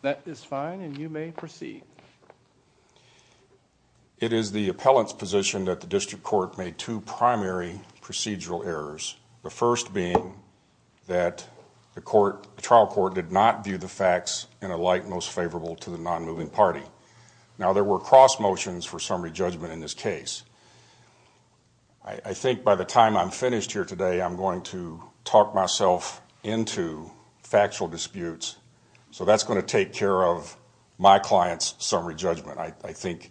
The District Court made two primary procedural errors, the first being that the trial court did not view the facts in a light most favorable to the non-moving party. Now there were cross motions for summary judgment in this case. I think by the time I'm finished here today, I'm going to talk myself into factual disputes, so that's going to take care of my client's summary judgment. I think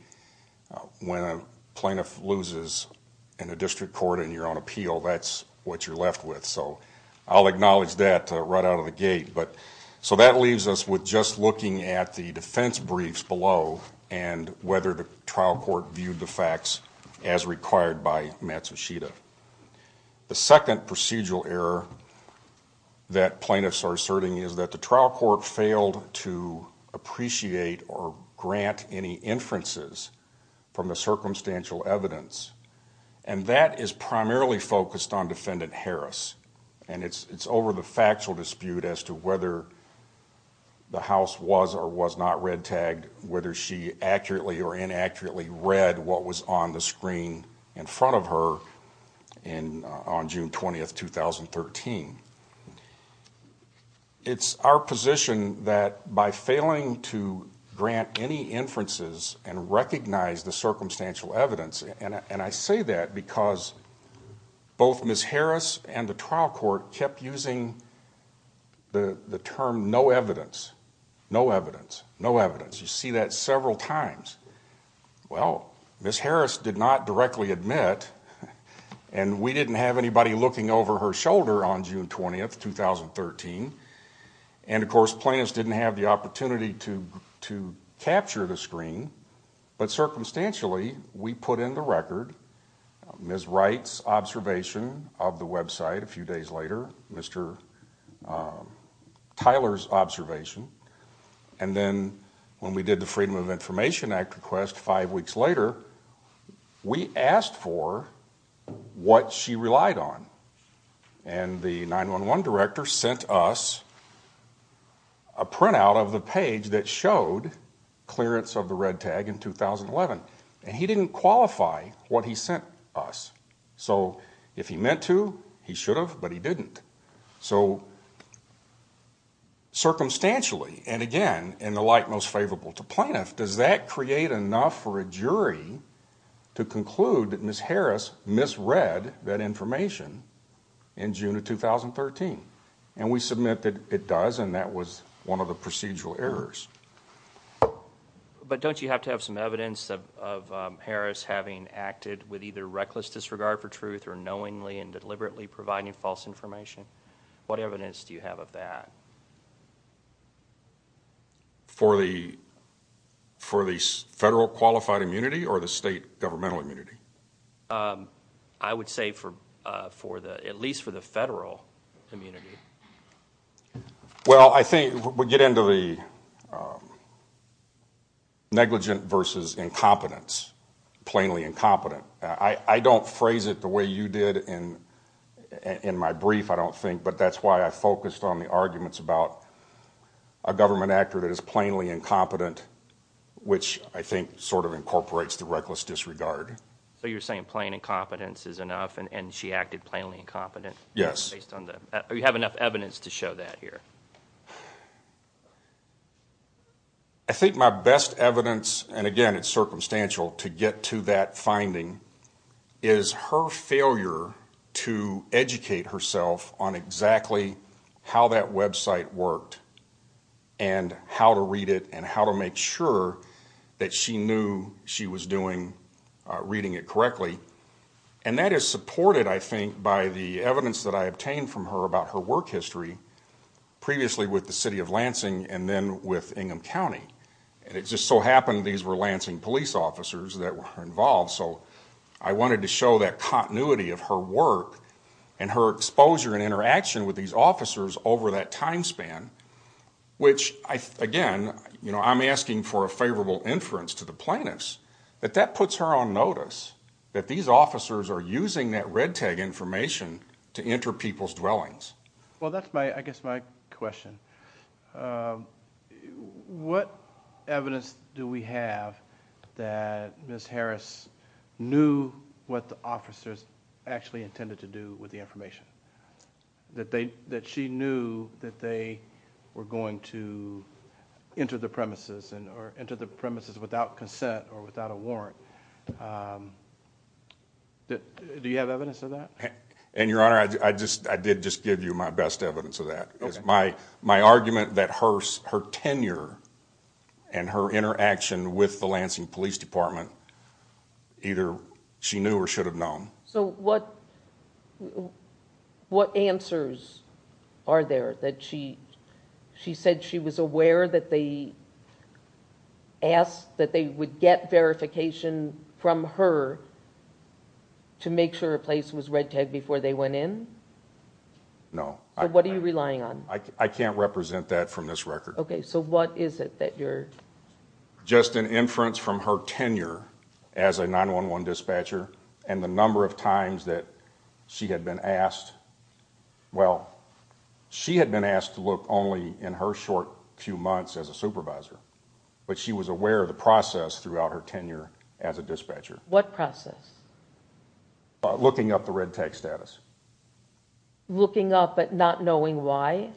when a plaintiff loses in a district court and you're on appeal, that's what you're left with. So I'll acknowledge that right out of the gate. But so that leaves us with just looking at the defense briefs below and whether the trial court viewed the facts as required by Matsushita. The second procedural error that plaintiffs are asserting is that the trial court failed to appreciate or grant any inferences from the circumstantial evidence. And that is primarily focused on Defendant Harris. And it's over the factual dispute as to whether the House was or was not red-tagged, whether she accurately or inaccurately read what was on the screen in front of her on June 20, 2013. It's our position that by failing to grant any inferences and recognize the circumstantial evidence, and I say that because both Ms. Harris and the trial court kept using the term no evidence, no evidence, no evidence. You see that several times. Well, Ms. Harris did not directly admit, and we didn't have anybody looking over her shoulder on June 20, 2013. And of course, plaintiffs didn't have the opportunity to capture the screen. But circumstantially, we put in the record Ms. Wright's observation of the website a few days later, Mr. Tyler's observation. And then when we did the Freedom of Information Act request five weeks later, we asked for what she relied on. And the 9-1-1 director sent us a printout of the page that showed clearance of the red tag in 2011. And he didn't qualify what he sent us. So if he meant to, he should have, but he didn't. So circumstantially, and again, in the light most favorable to plaintiffs, does that create enough for a jury to conclude that Ms. Harris misread that information in June of 2013? And we submit that it does, and that was one of the procedural errors. But don't you have to have some evidence of Harris having acted with either reckless disregard for truth, or knowingly and deliberately providing false information? What evidence do you have of that? For the federal qualified immunity, or the state governmental immunity? I would say at least for the federal immunity. Well, I think we get into the negligent versus incompetence, plainly incompetent. I don't phrase it the way you did in my brief, I don't think, but that's why I focused on the arguments about a government actor that is plainly incompetent, which I think sort of incorporates the reckless disregard. So you're saying plain incompetence is enough, and she acted plainly incompetent? Yes. Do you have enough evidence to show that here? I think my best evidence, and again, it's circumstantial to get to that finding, is her failure to educate herself on exactly how that website worked, and how to read it, and how to make sure that she knew she was doing, reading it correctly. And that is supported, I think, by the evidence that I obtained from her about her work history, previously with the city of Lansing, and then with Ingham County. And it just so happened these were Lansing police officers that were involved, so I wanted to show that continuity of her work, and her exposure and interaction with these officers over that time span, which, again, I'm asking for a favorable inference to the plaintiffs, that that puts her on notice, that these officers are using that red tag information to enter people's dwellings. Well, that's my, I guess, my question. What evidence do we have that Ms. Harris knew what the officers actually intended to do with the information? That she knew that they were going to enter the premises, or enter the premises without consent or without a warrant? Do you have evidence of that? And, Your Honor, I just, I did just give you my best evidence of that. It's my argument that her tenure and her interaction with the Lansing Police Department, either she knew or should have known. So, what answers are there that she, she said she was aware that they asked, that they would get verification from her to make sure her place was red tagged before they went in? No. So, what are you relying on? I can't represent that from this record. Okay, so what is it that you're... Just an inference from her tenure as a 911 dispatcher, and the number of times that she had been asked, well, she had been asked to look only in her short few months as a supervisor, but she was aware of the process throughout her tenure as a dispatcher. What process? Looking up the red tag status. Looking up, but not knowing why?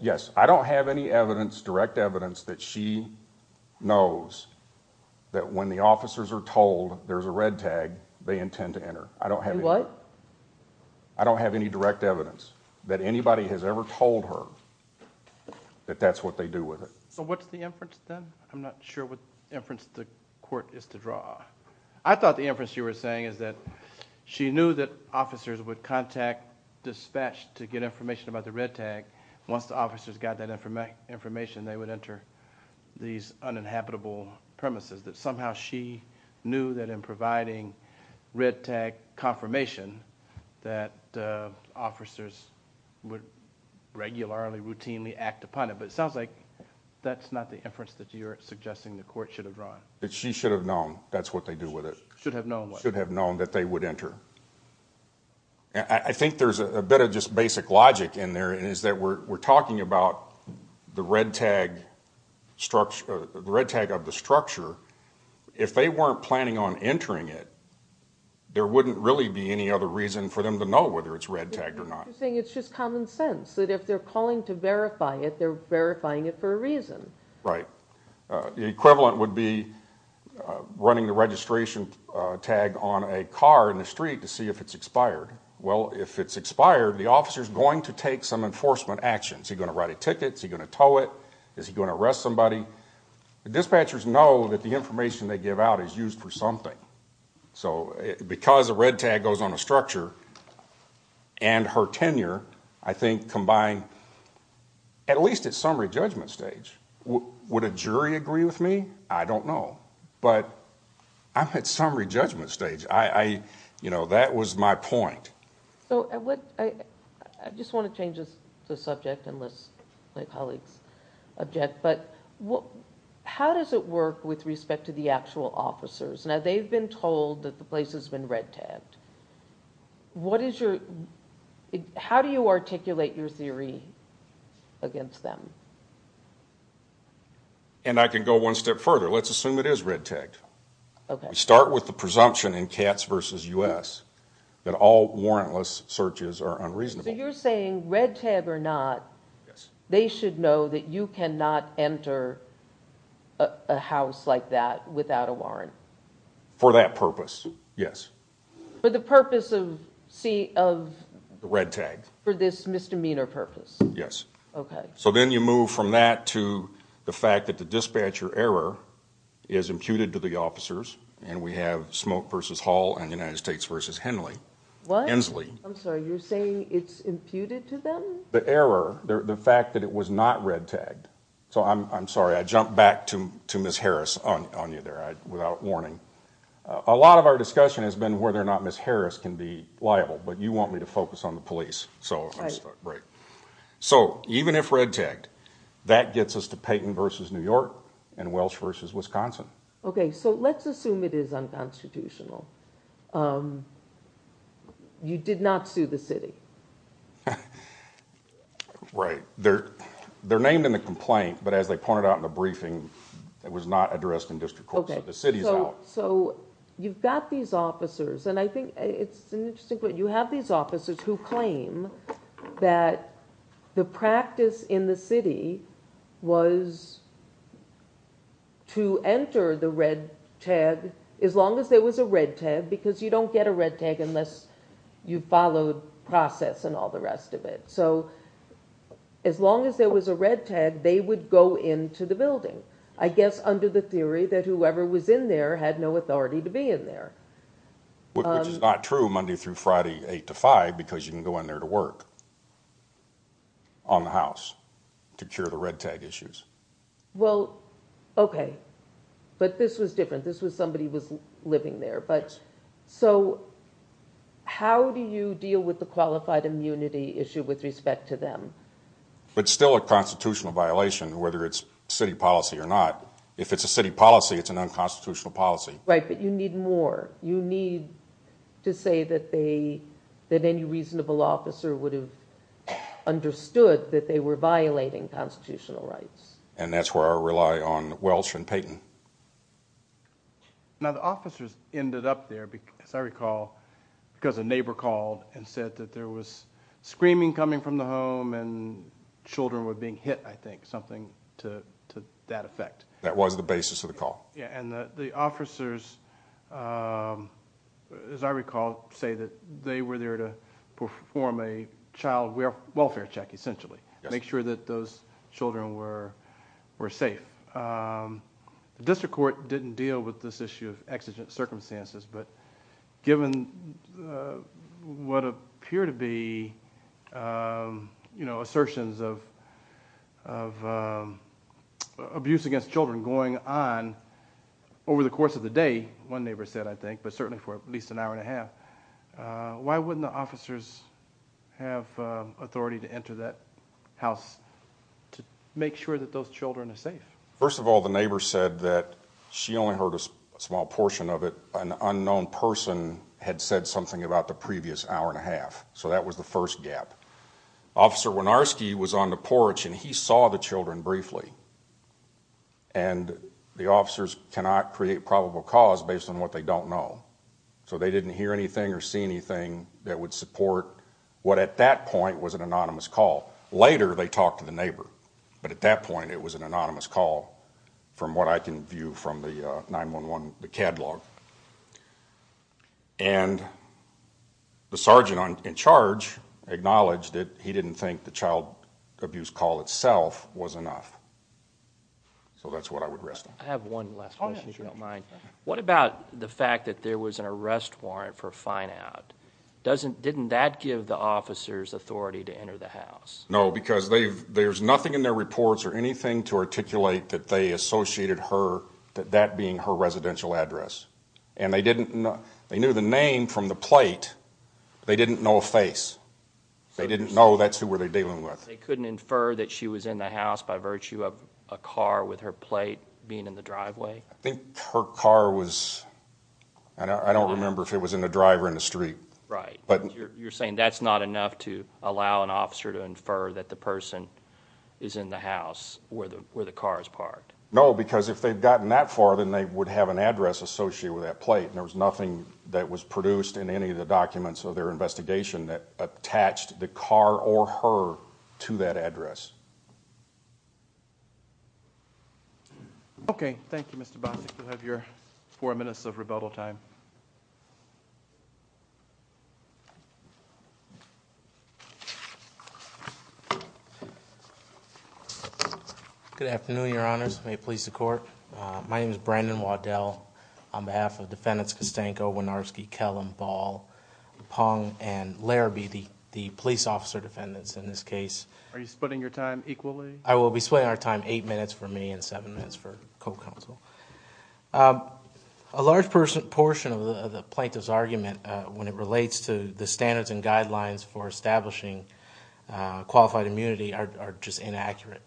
Yes, I don't have any evidence, direct evidence that she knows that when the officers are told there's a red tag, they intend to enter. I don't have any... You what? I don't have any direct evidence that anybody has ever told her that that's what they do with it. So, what's the inference then? I'm not sure what inference the court is to draw. I thought the inference you were saying is that she knew that officers would contact dispatch to get information about the red tag. Once the officers got that information, they would enter these uninhabitable premises. That somehow she knew that in providing red tag confirmation that officers would regularly, routinely act upon it. But it sounds like that's not the inference that you're suggesting the court should have drawn. That she should have known that's what they do with it. Should have known what? Should have known that they would enter. I think there's a bit of just basic logic in there and is that we're talking about the red tag of the structure. If they weren't planning on entering it, there wouldn't really be any other reason for them to know whether it's red tagged or not. You're saying it's just common sense that if they're calling to verify it, they're verifying it for a reason. Right. The equivalent would be running the registration tag on a car in the street to see if it's expired. Well, if it's expired, the officer's going to take some enforcement action. Is he going to write a ticket? Is he going to tow it? Is he going to arrest somebody? The dispatchers know that the information they give out is used for something. So because a red tag goes on a structure and her tenure, I think combined, at least at summary judgment stage, would a jury agree with me? I don't know, but I'm at summary judgment stage. That was my point. I just want to change the subject unless my colleagues object, but how does it work with respect to the actual officers? Now, they've been told that the place has been red tagged. How do you articulate your theory against them? And I can go one step further. Let's assume it is red tagged. We start with the presumption in Katz v. U.S. that all warrantless searches are unreasonable. So you're saying red tag or not, they should know that you cannot enter a house like that without a warrant? For that purpose, yes. For the purpose of... The red tag. For this misdemeanor purpose? Yes. Okay. So then you move from that to the fact that the dispatcher error is imputed to the officers, and we have Smoke v. Hall and United States v. Hensley. What? I'm sorry, you're saying it's imputed to them? The error, the fact that it was not red tagged. So I'm sorry, I jumped back to Ms. Harris on you there without warning. A lot of our discussion has been whether or not Ms. Harris can be liable, but you want me to focus on the police. So I just thought, right. So even if red tagged, that gets us to Payton v. New York and Welsh v. Wisconsin. Okay, so let's assume it is unconstitutional. You did not sue the city. Right. They're named in the complaint, but as they pointed out in the briefing, it was not addressed in district court. The city's out. So you've got these officers, and I think it's an interesting point. You have these officers who claim that the practice in the city was to enter the red tag, as long as there was a red tag, because you don't get a red tag unless you followed process and all the rest of it. So as long as there was a red tag, they would go into the building. I guess under the theory that whoever was in there had no authority to be in there, which is not true Monday through Friday, eight to five, because you can go in there to work on the house to cure the red tag issues. Well, okay, but this was different. This was somebody was living there. But so how do you deal with the qualified immunity issue with respect to them? But still a constitutional violation, whether it's city policy or not. If it's a city policy, it's an unconstitutional policy. Right, but you need more. You need to say that any reasonable officer would have understood that they were violating constitutional rights. And that's where I rely on Welch and Payton. Now, the officers ended up there, as I recall, because a neighbor called and said that there was screaming coming from the home and children were being hit, I think something to that effect. That was the basis of the call. Yeah, and the officers, as I recall, say that they were there to perform a child welfare check, essentially, make sure that those children were safe. District Court didn't deal with this issue of exigent circumstances, but given what appear to be assertions of abuse against children going on over the course of the day, one neighbor said, I think, but certainly for at least an hour and a half, why wouldn't the officers have authority to enter that house to make sure that those children are safe? First of all, the neighbor said that she only heard a small portion of it, that an unknown person had said something about the previous hour and a half. So that was the first gap. Officer Wynarski was on the porch and he saw the children briefly. And the officers cannot create probable cause based on what they don't know. So they didn't hear anything or see anything that would support what at that point was an anonymous call. Later, they talked to the neighbor. But at that point, it was an anonymous call from what I can view from the 9-1-1, the catalog. And the sergeant in charge acknowledged that he didn't think the child abuse call itself was enough. So that's what I would rest on. I have one last question, if you don't mind. What about the fact that there was an arrest warrant for a fine out? No, because there's nothing in their reports or anything to articulate that they associated her, that that being her residential address. And they didn't know, they knew the name from the plate. They didn't know a face. They didn't know that's who were they dealing with. They couldn't infer that she was in the house by virtue of a car with her plate being in the driveway? I think her car was, I don't remember if it was in the driver in the street. Right, but you're saying that's not enough to allow an officer to infer that the person is in the house where the car is parked? No, because if they've gotten that far, then they would have an address associated with that plate. And there was nothing that was produced in any of the documents of their investigation that attached the car or her to that address. Okay, thank you, Mr. Bostic. You'll have your four minutes of rebuttal time. Good afternoon, your honors. May it please the court. My name is Brandon Waddell. On behalf of Defendants Kostenko, Wynarski, Kellum, Ball, Pong, and Larabee, the police officer defendants in this case. Are you splitting your time equally? I will be splitting our time eight minutes for me and seven minutes for co-counsel. A large portion of the plaintiff's argument when it relates to the standards and guidelines for establishing qualified immunity are just inaccurate.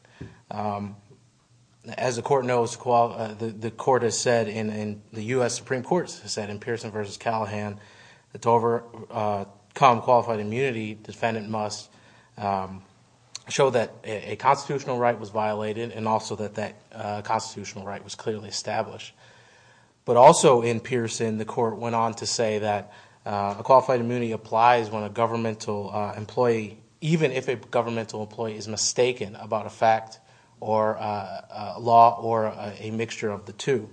As the court knows, the court has said, and the U.S. Supreme Court has said in Pearson v. Callahan that to overcome qualified immunity, defendant must show that a constitutional right was violated and also that that constitutional right was clearly established. But also in Pearson, the court went on to say that a qualified immunity applies when a governmental employee, even if a governmental employee is mistaken about a fact or a law or a mixture of the two.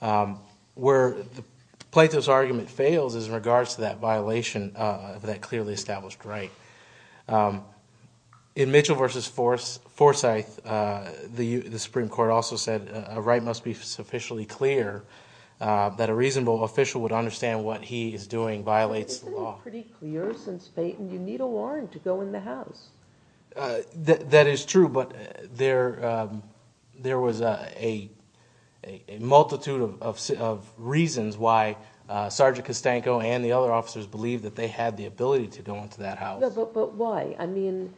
Where the plaintiff's argument fails is in regards to that violation of that clearly established right. In Mitchell v. Forsyth, the Supreme Court also said a right must be sufficiently clear that a reasonable official would understand what he is doing violates the law. Isn't it pretty clear since Payton, you need a warrant to go in the house. That is true, but there was a multitude of reasons why Sergeant Costanco and the other officers believed that they had the ability to go into that house. But why? I mean,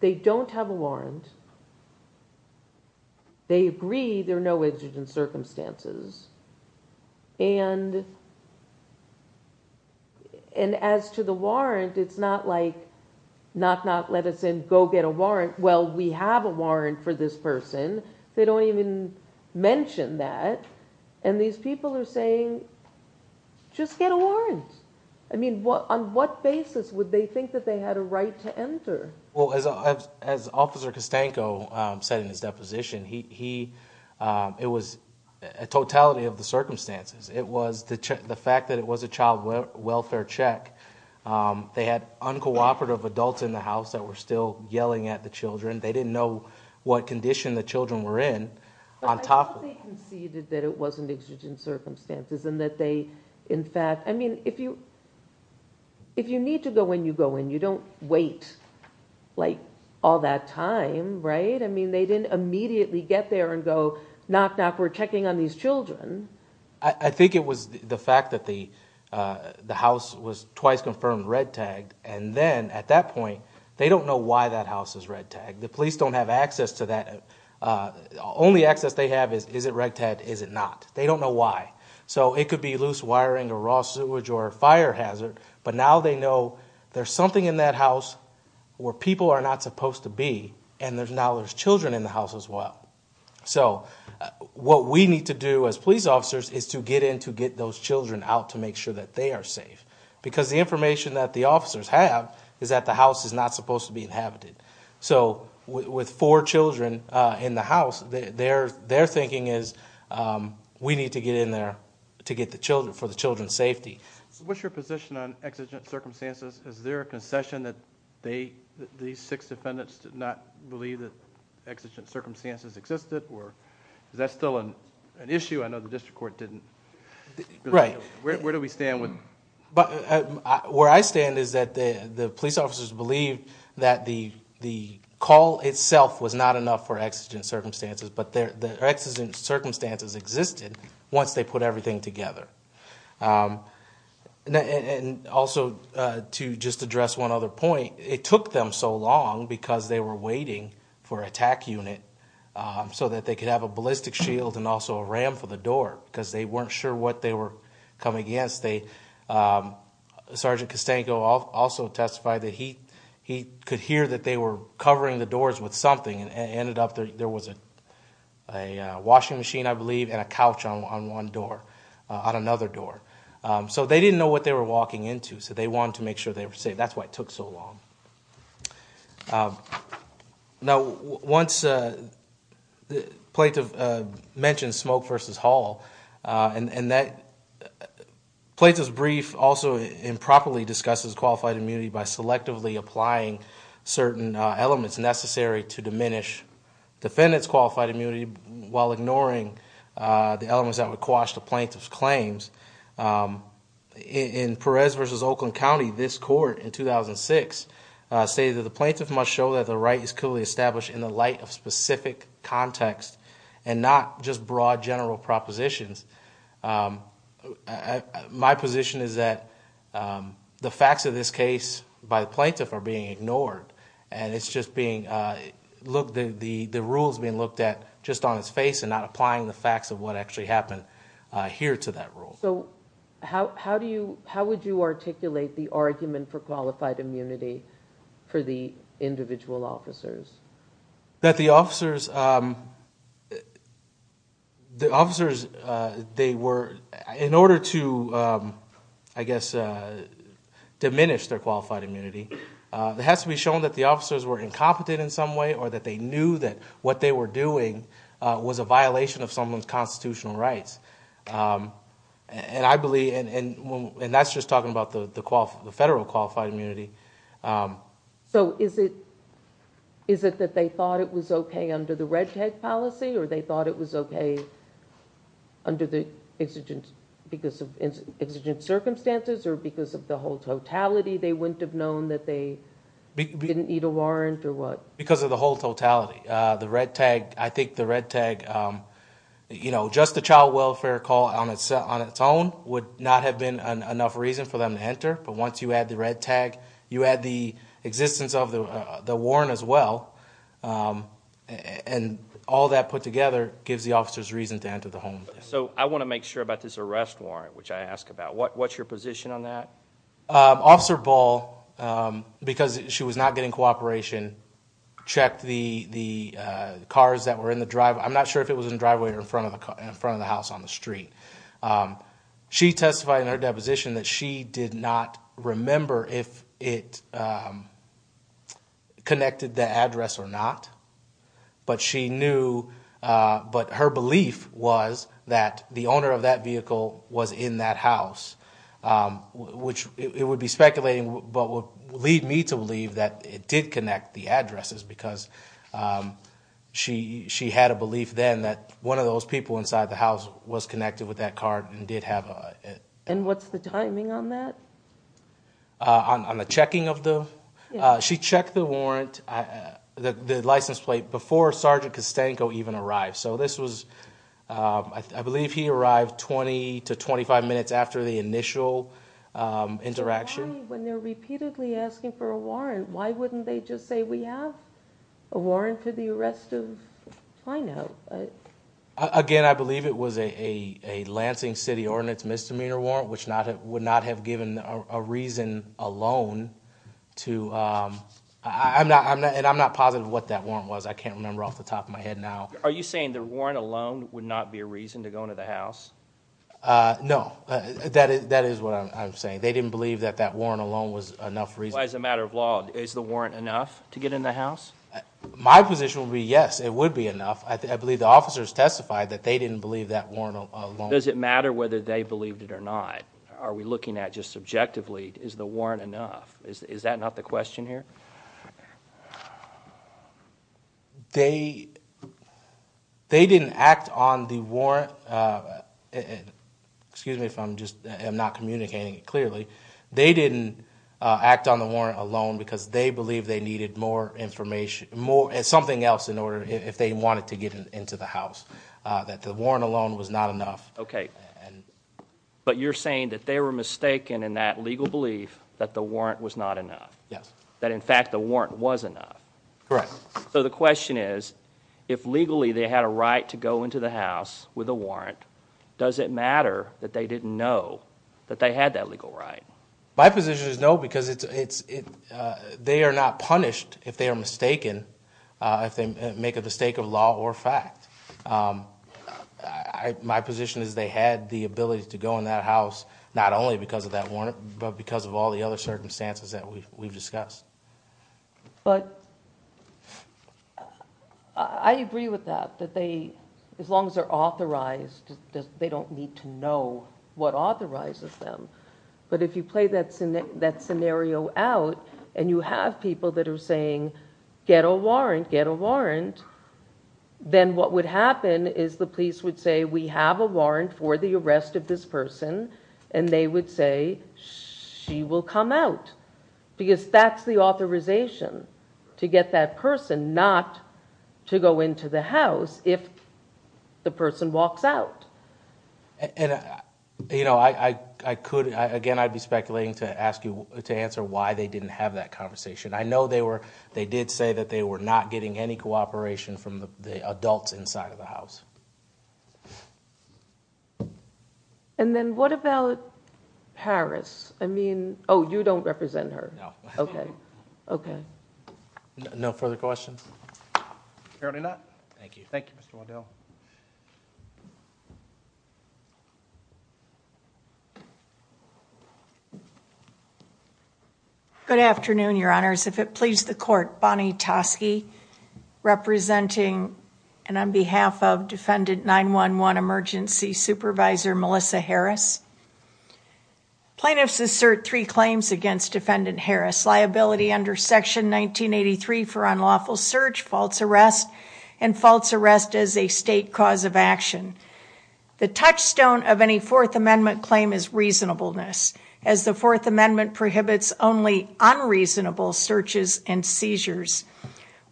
they don't have a warrant. They agree there are no edges in circumstances. And as to the warrant, it's not like, knock, knock, let us in, go get a warrant. Well, we have a warrant for this person. They don't even mention that. And these people are saying, just get a warrant. I mean, on what basis would they think that they had a right to enter? Well, as Officer Costanco said in his deposition, it was a totality of the circumstances. It was the fact that it was a child welfare check. They had uncooperative adults in the house that were still yelling at the children. They didn't know what condition the children were in. But I thought they conceded that it wasn't exigent circumstances and that they, in fact, I mean, if you need to go in, you go in. You don't wait, like, all that time, right? I mean, they didn't immediately get there and go, knock, knock, we're checking on these children. I think it was the fact that the house was twice confirmed red-tagged. And then at that point, they don't know why that house is red-tagged. The police don't have access to that. Only access they have is, is it red-tagged, is it not? They don't know why. So it could be loose wiring or raw sewage or a fire hazard. But now they know there's something in that house where people are not supposed to be, and now there's children in the house as well. So what we need to do as police officers is to get in to get those children out to make sure that they are safe. Because the information that the officers have is that the house is not supposed to be inhabited. So with four children in the house, their thinking is, we need to get in there to get the children, for the children's safety. So what's your position on exigent circumstances? Is there a concession that they, these six defendants, did not believe that exigent circumstances existed? Or is that still an issue? I know the district court didn't. Right. Where do we stand with? But where I stand is that the police officers believe that the call itself was not enough for exigent circumstances. But the exigent circumstances existed once they put everything together. And also to just address one other point, it took them so long because they were waiting for attack unit so that they could have a ballistic shield and also a ram for the door because they weren't sure what they were coming against. Sergeant Costango also testified that he could hear that they were covering the doors with something and ended up there was a washing machine, I believe, and a couch on one door, on another door. So they didn't know what they were walking into, so they wanted to make sure they were safe. That's why it took so long. Now, once the plaintiff mentioned Smoke versus Hall, and that plaintiff's brief also improperly discusses qualified immunity by selectively applying certain elements necessary to diminish defendant's qualified immunity while ignoring the elements that would quash the plaintiff's claims. In Perez versus Oakland County, this court in 2006 stated that the plaintiff must show that the right is clearly established in the light of specific context and not just broad general propositions. My position is that the facts of this case by the plaintiff are being ignored. And it's just being, the rule's being looked at just on its face and not applying the facts of what actually happened here to that rule. So how do you, how would you articulate the argument for qualified immunity for the individual officers? That the officers, they were, in order to, I guess, diminish their qualified immunity, it has to be shown that the officers were incompetent in some way or that they knew that what they were doing was a violation of someone's constitutional rights. And I believe, and that's just talking about the federal qualified immunity. So is it that they thought it was okay under the red tag policy? Or they thought it was okay under the exigent, because of exigent circumstances? Or because of the whole totality, they wouldn't have known that they didn't need a warrant or what? Because of the whole totality. The red tag, I think the red tag, just the child welfare call on its own would not have been enough reason for them to enter. But once you add the red tag, you add the existence of the warrant as well. And all that put together gives the officers reason to enter the home. So I want to make sure about this arrest warrant, which I ask about. What's your position on that? Officer Ball, because she was not getting cooperation, checked the cars that were in the driveway. I'm not sure if it was in the driveway or in front of the house on the street. She testified in her deposition that she did not remember if it connected the address or not. But she knew, but her belief was that the owner of that vehicle was in that house. Which it would be speculating, but would lead me to believe that it did connect the addresses. Because she had a belief then that one of those people inside the house was connected with that car and did have a- And what's the timing on that? On the checking of the? She checked the warrant, the license plate, before Sergeant Costanko even arrived. So this was, I believe he arrived 20 to 25 minutes after the initial interaction. When they're repeatedly asking for a warrant, why wouldn't they just say we have a warrant to the arrest of Plano? Again, I believe it was a Lansing City Ordinance Misdemeanor Warrant, which would not have given a reason alone to, and I'm not positive what that warrant was, I can't remember off the top of my head now. Are you saying the warrant alone would not be a reason to go into the house? No, that is what I'm saying. They didn't believe that that warrant alone was enough reason. As a matter of law, is the warrant enough to get in the house? My position would be yes, it would be enough. I believe the officers testified that they didn't believe that warrant alone. Does it matter whether they believed it or not? Are we looking at just subjectively, is the warrant enough? Is that not the question here? They didn't act on the warrant. Excuse me if I'm just not communicating it clearly. They didn't act on the warrant alone because they believed they needed more information, something else in order, if they wanted to get into the house, that the warrant alone was not enough. Okay, but you're saying that they were mistaken in that legal belief that the warrant was not enough. Yes. That in fact the warrant was enough. Correct. So the question is, if legally they had a right to go into the house with a warrant, does it matter that they didn't know that they had that legal right? My position is no, because they are not punished if they are mistaken, if they make a mistake of law or fact. My position is they had the ability to go in that house, not only because of that warrant, but because of all the other circumstances that we've discussed. But I agree with that, that as long as they're authorized, they don't need to know what authorizes them. But if you play that scenario out and you have people that are saying get a warrant, get a warrant, then what would happen is the police would say we have a warrant for the arrest of this person and they would say she will come out. Because that's the authorization to get that person not to go into the house if the person walks out. Again, I'd be speculating to ask you to answer why they didn't have that conversation. I know they did say that they were not getting any cooperation from the adults inside of the house. And then what about Harris? I mean, you don't represent her. No. Okay. Okay. No further questions? Apparently not. Thank you. Thank you, Mr. Waddell. Good afternoon, your honors. If it please the court, Bonnie Tosky, representing and advisor Melissa Harris, plaintiffs assert three claims against defendant Harris. Liability under section 1983 for unlawful search, false arrest, and false arrest as a state cause of action. The touchstone of any Fourth Amendment claim is reasonableness, as the Fourth Amendment prohibits only unreasonable searches and seizures.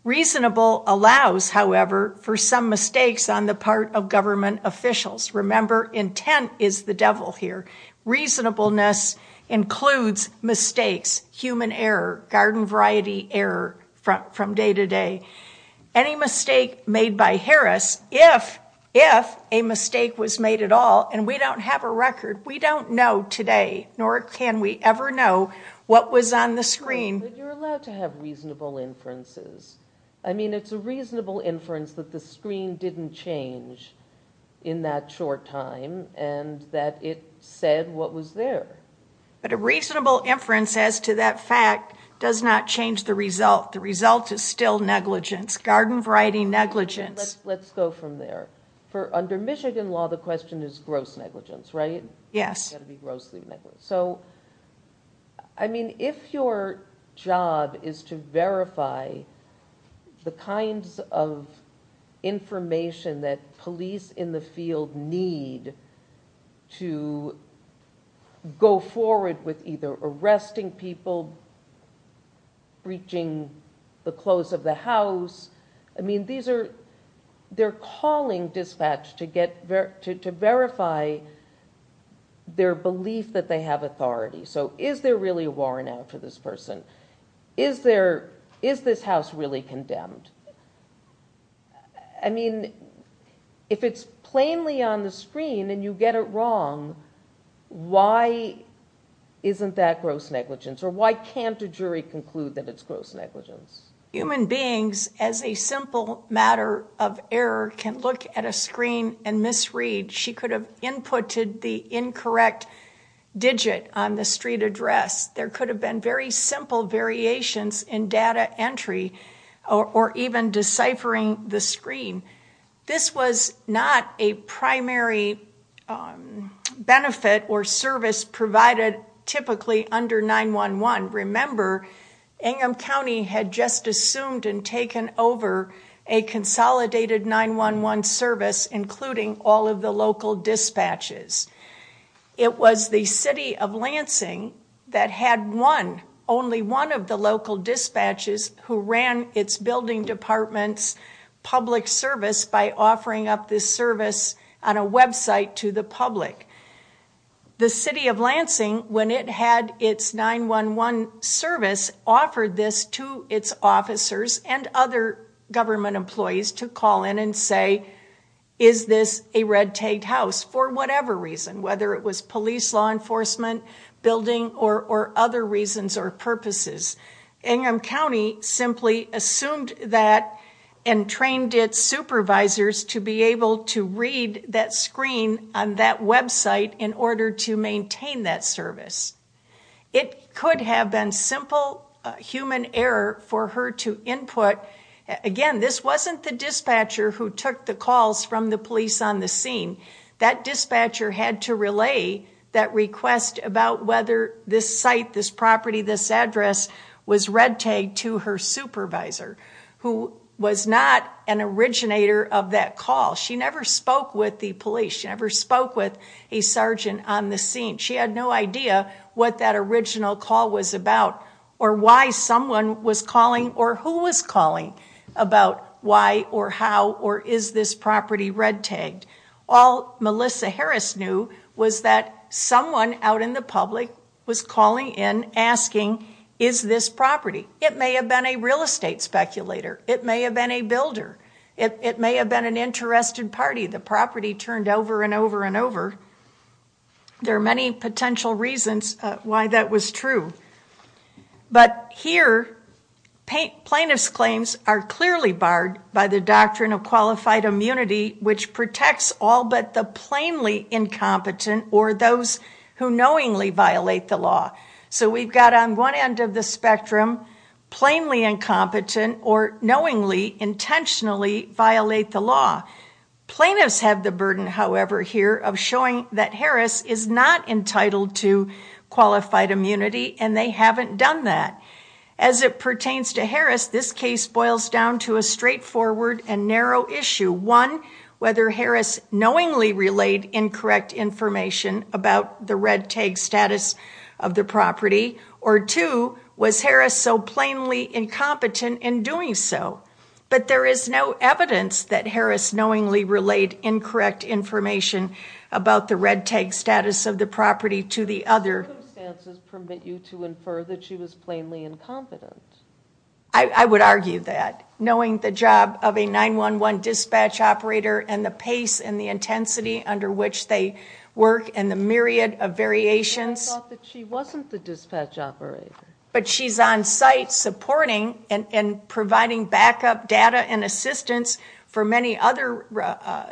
Reasonable allows, however, for some mistakes on the part of government officials. Remember, intent is the devil here. Reasonableness includes mistakes, human error, garden variety error from day to day. Any mistake made by Harris, if a mistake was made at all, and we don't have a record, we don't know today, nor can we ever know what was on the screen. But you're allowed to have reasonable inferences. I mean, it's a reasonable inference that the screen didn't change in that short time, and that it said what was there. But a reasonable inference as to that fact does not change the result. The result is still negligence, garden variety negligence. Let's go from there. For under Michigan law, the question is gross negligence, right? Yes. It's got to be grossly negligent. So, I mean, if your job is to verify the kinds of information that police in the field need to go forward with either arresting people, breaching the close of the house. I mean, they're calling dispatch to verify their belief that they have authority. So is there really a warrant out for this person? Is this house really condemned? I mean, if it's plainly on the screen and you get it wrong, why isn't that gross negligence, or why can't a jury conclude that it's gross negligence? Human beings, as a simple matter of error, can look at a screen and misread. She could have inputted the incorrect digit on the street address. There could have been very simple variations in data entry or even deciphering the screen. This was not a primary benefit or service provided typically under 911. Remember, Ingham County had just assumed and the local dispatches. It was the city of Lansing that had one, only one of the local dispatches who ran its building department's public service by offering up this service on a website to the public. The city of Lansing, when it had its 911 service, offered this to its officers and other government employees to call in and say, is this a red tag house for whatever reason, whether it was police, law enforcement, building, or other reasons or purposes. Ingham County simply assumed that and trained its supervisors to be able to read that screen on that website in order to maintain that service. It could have been simple human error for her to input. Again, this wasn't the dispatcher who took the calls from the police on the scene. That dispatcher had to relay that request about whether this site, this property, this address was red tagged to her supervisor, who was not an originator of that call. She never spoke with the police. She never spoke with a sergeant on the scene. She had no idea what that original call was about or why someone was calling or who was calling about why or how or is this property red tagged. All Melissa Harris knew was that someone out in the public was calling in asking, is this property? It may have been a real estate speculator. It may have been a builder. It may have been an interested party. The property turned over and over and over. There are many potential reasons why that was true. But here, plaintiff's claims are clearly barred by the doctrine of qualified immunity, which protects all but the plainly incompetent or those who knowingly violate the law. So we've got on one end of the spectrum, plainly incompetent or knowingly, intentionally violate the law. Plaintiffs have the burden, however, here of showing that Harris is not entitled to qualified immunity and they haven't done that. As it pertains to Harris, this case boils down to a straightforward and narrow issue. One, whether Harris knowingly relayed incorrect information about the red tag status of the property. Or two, was Harris so plainly incompetent in doing so? But there is no evidence that Harris knowingly relayed incorrect information about the red tag status of the property to the other. The circumstances permit you to infer that she was plainly incompetent. I would argue that. Knowing the job of a 911 dispatch operator and the pace and the intensity under which they work and the myriad of variations. I thought that she wasn't the dispatch operator. But she's on site supporting and providing backup data and assistance for many other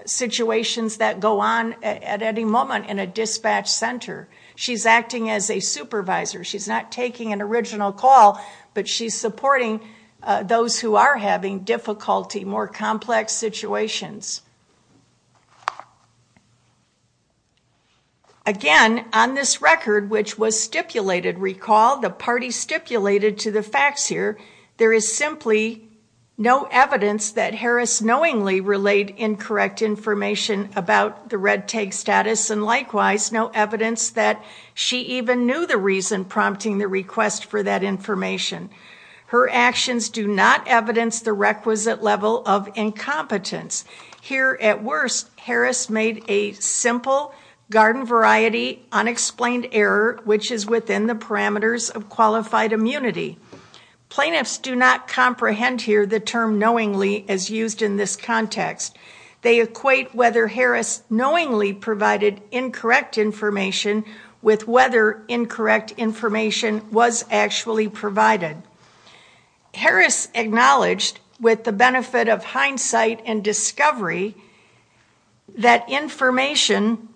situations that go on at any moment in a dispatch center. She's acting as a supervisor. She's not taking an original call, but she's supporting those who are having difficulty, more complex situations. Again, on this record, which was stipulated, recall the party stipulated to the facts here. There is simply no evidence that Harris knowingly relayed incorrect information about the red tag status. And likewise, no evidence that she even knew the reason prompting the request for that information. Her actions do not evidence the requisite level of incompetence. Here at worst, Harris made a simple garden variety unexplained error which is within the parameters of qualified immunity. Plaintiffs do not comprehend here the term knowingly as used in this context. They equate whether Harris knowingly provided incorrect information with whether incorrect information was actually provided. Harris acknowledged with the benefit of hindsight and discovery that information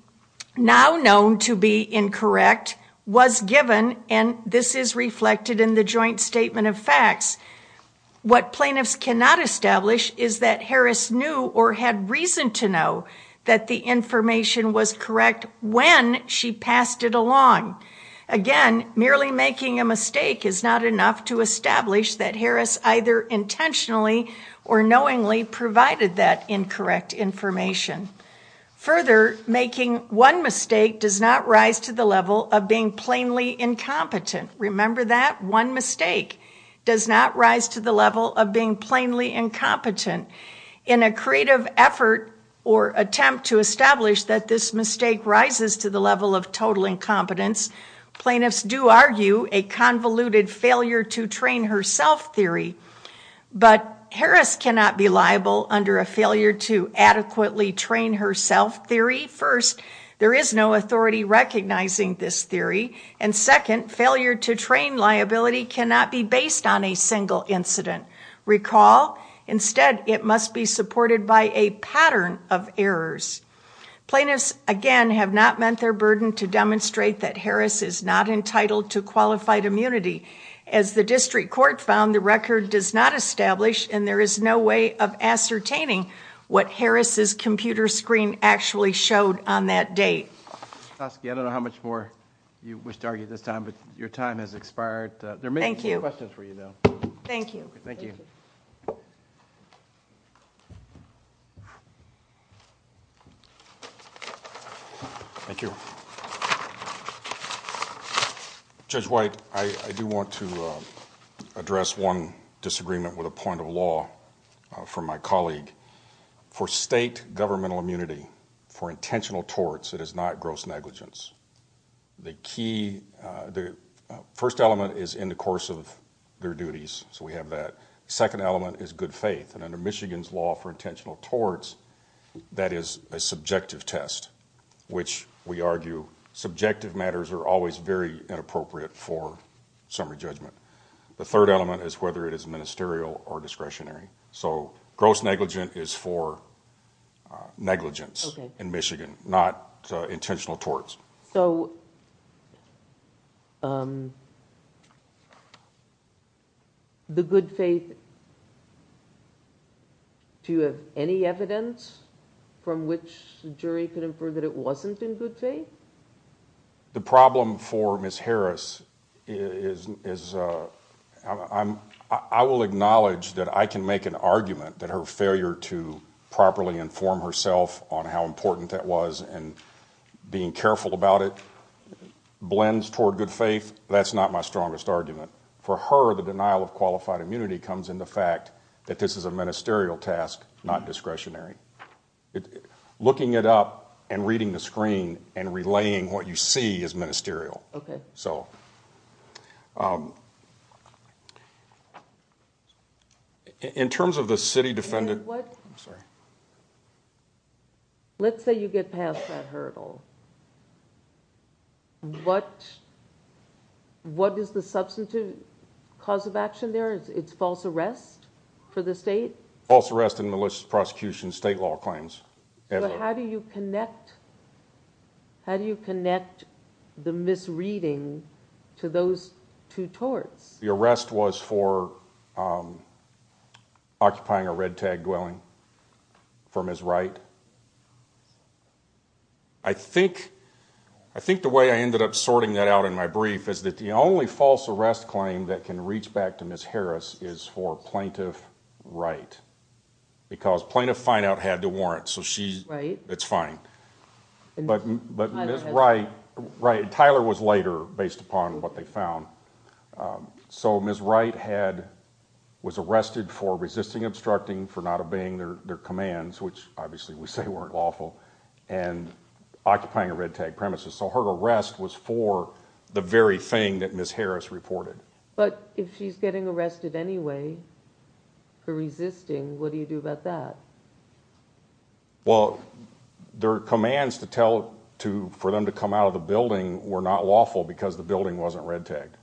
now known to be incorrect was given and this is reflected in the joint statement of facts. What plaintiffs cannot establish is that Harris knew or had reason to know that the information was correct when she passed it along. Again, merely making a mistake is not enough to establish that Harris either intentionally or knowingly provided that incorrect information. Further, making one mistake does not rise to the level of being plainly incompetent. Remember that, one mistake does not rise to the level of being plainly incompetent. In a creative effort or attempt to establish that this mistake rises to the level of total incompetence, plaintiffs do argue a convoluted failure to train herself theory. But Harris cannot be liable under a failure to adequately train herself theory. First, there is no authority recognizing this theory. And second, failure to train liability cannot be based on a single incident. Recall, instead, it must be supported by a pattern of errors. Plaintiffs, again, have not met their burden to demonstrate that Harris is not entitled to qualified immunity. As the district court found, the record does not establish and there is no way of ascertaining what Harris's computer screen actually showed on that date. I don't know how much more you wish to argue this time, but your time has expired. There may be a few questions for you, though. Thank you. Thank you. Thank you. Judge White, I do want to address one disagreement with a point of law from my colleague. For state governmental immunity, for intentional torts, it is not gross negligence. The key, the first element is in the course of their duties, so we have that. Second element is good faith, and under Michigan's law for a subjective test, which we argue subjective matters are always very inappropriate for summary judgment. The third element is whether it is ministerial or discretionary. So, gross negligence is for negligence in Michigan, not intentional torts. So, the good faith, do you have any evidence from which the jury could infer that it wasn't in good faith? The problem for Ms. Harris is, I will acknowledge that I can make an argument that her failure to properly inform herself on how important that was and being careful about it blends toward good faith. That's not my strongest argument. For her, the denial of qualified immunity comes into fact that this is a ministerial task, not discretionary. Looking it up and reading the screen and relaying what you see is ministerial. Okay. So, in terms of the city defendant- In what- I'm sorry. Let's say you get past that hurdle. What is the substantive cause of action there? It's false arrest for the state? False arrest and malicious prosecution, state law claims. So, how do you connect the misreading to those two torts? The arrest was for occupying a red tag dwelling for Ms. Wright. I think the way I ended up sorting that out in my brief is that the only false arrest claim that can reach back to Ms. Harris is for Plaintiff Wright. Because Plaintiff Finout had the warrant, so it's fine. But Ms. Wright, Tyler was later based upon what they found. So, Ms. Wright was arrested for resisting obstructing, for not obeying their commands, which obviously we say weren't lawful, and occupying a red tag premises. So, her arrest was for the very thing that Ms. Harris reported. But if she's getting arrested anyway for resisting, what do you do about that? Well, their commands for them to come out of the building were not lawful because the building wasn't red tagged.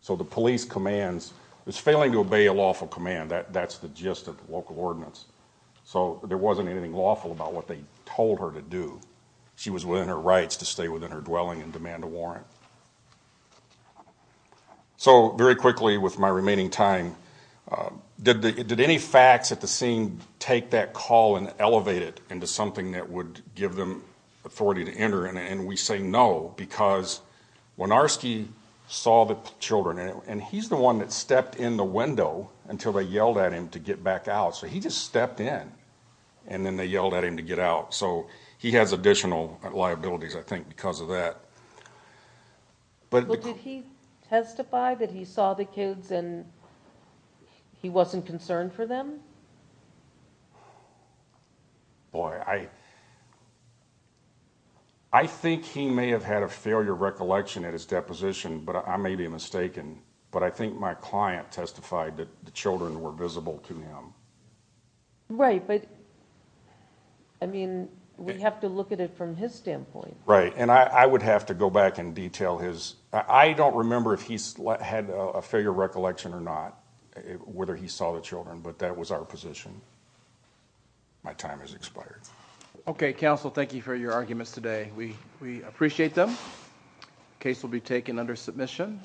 So, the police commands, it's failing to obey a lawful command, that's the gist of the local ordinance. So, there wasn't anything lawful about what they told her to do. She was within her rights to stay within her dwelling and demand a warrant. So, very quickly with my remaining time, did any facts at the scene take that call and elevate it into something that would give them authority to enter in it? And we say no, because Wynarski saw the children, and he's the one that stepped in the window until they yelled at him to get back out. So, he just stepped in, and then they yelled at him to get out. So, he has additional liabilities, I think, because of that. But- But did he testify that he saw the kids and he wasn't concerned for them? Boy, I think he may have had a failure of recollection at his deposition, but I may be mistaken, but I think my client testified that the children were visible to him. Right, but, I mean, we have to look at it from his standpoint. Right, and I would have to go back and detail his, I don't remember if he had a failure of recollection or not, whether he saw the children, but that was our position. My time has expired. Okay, counsel, thank you for your arguments today. We appreciate them. Case will be taken under submission.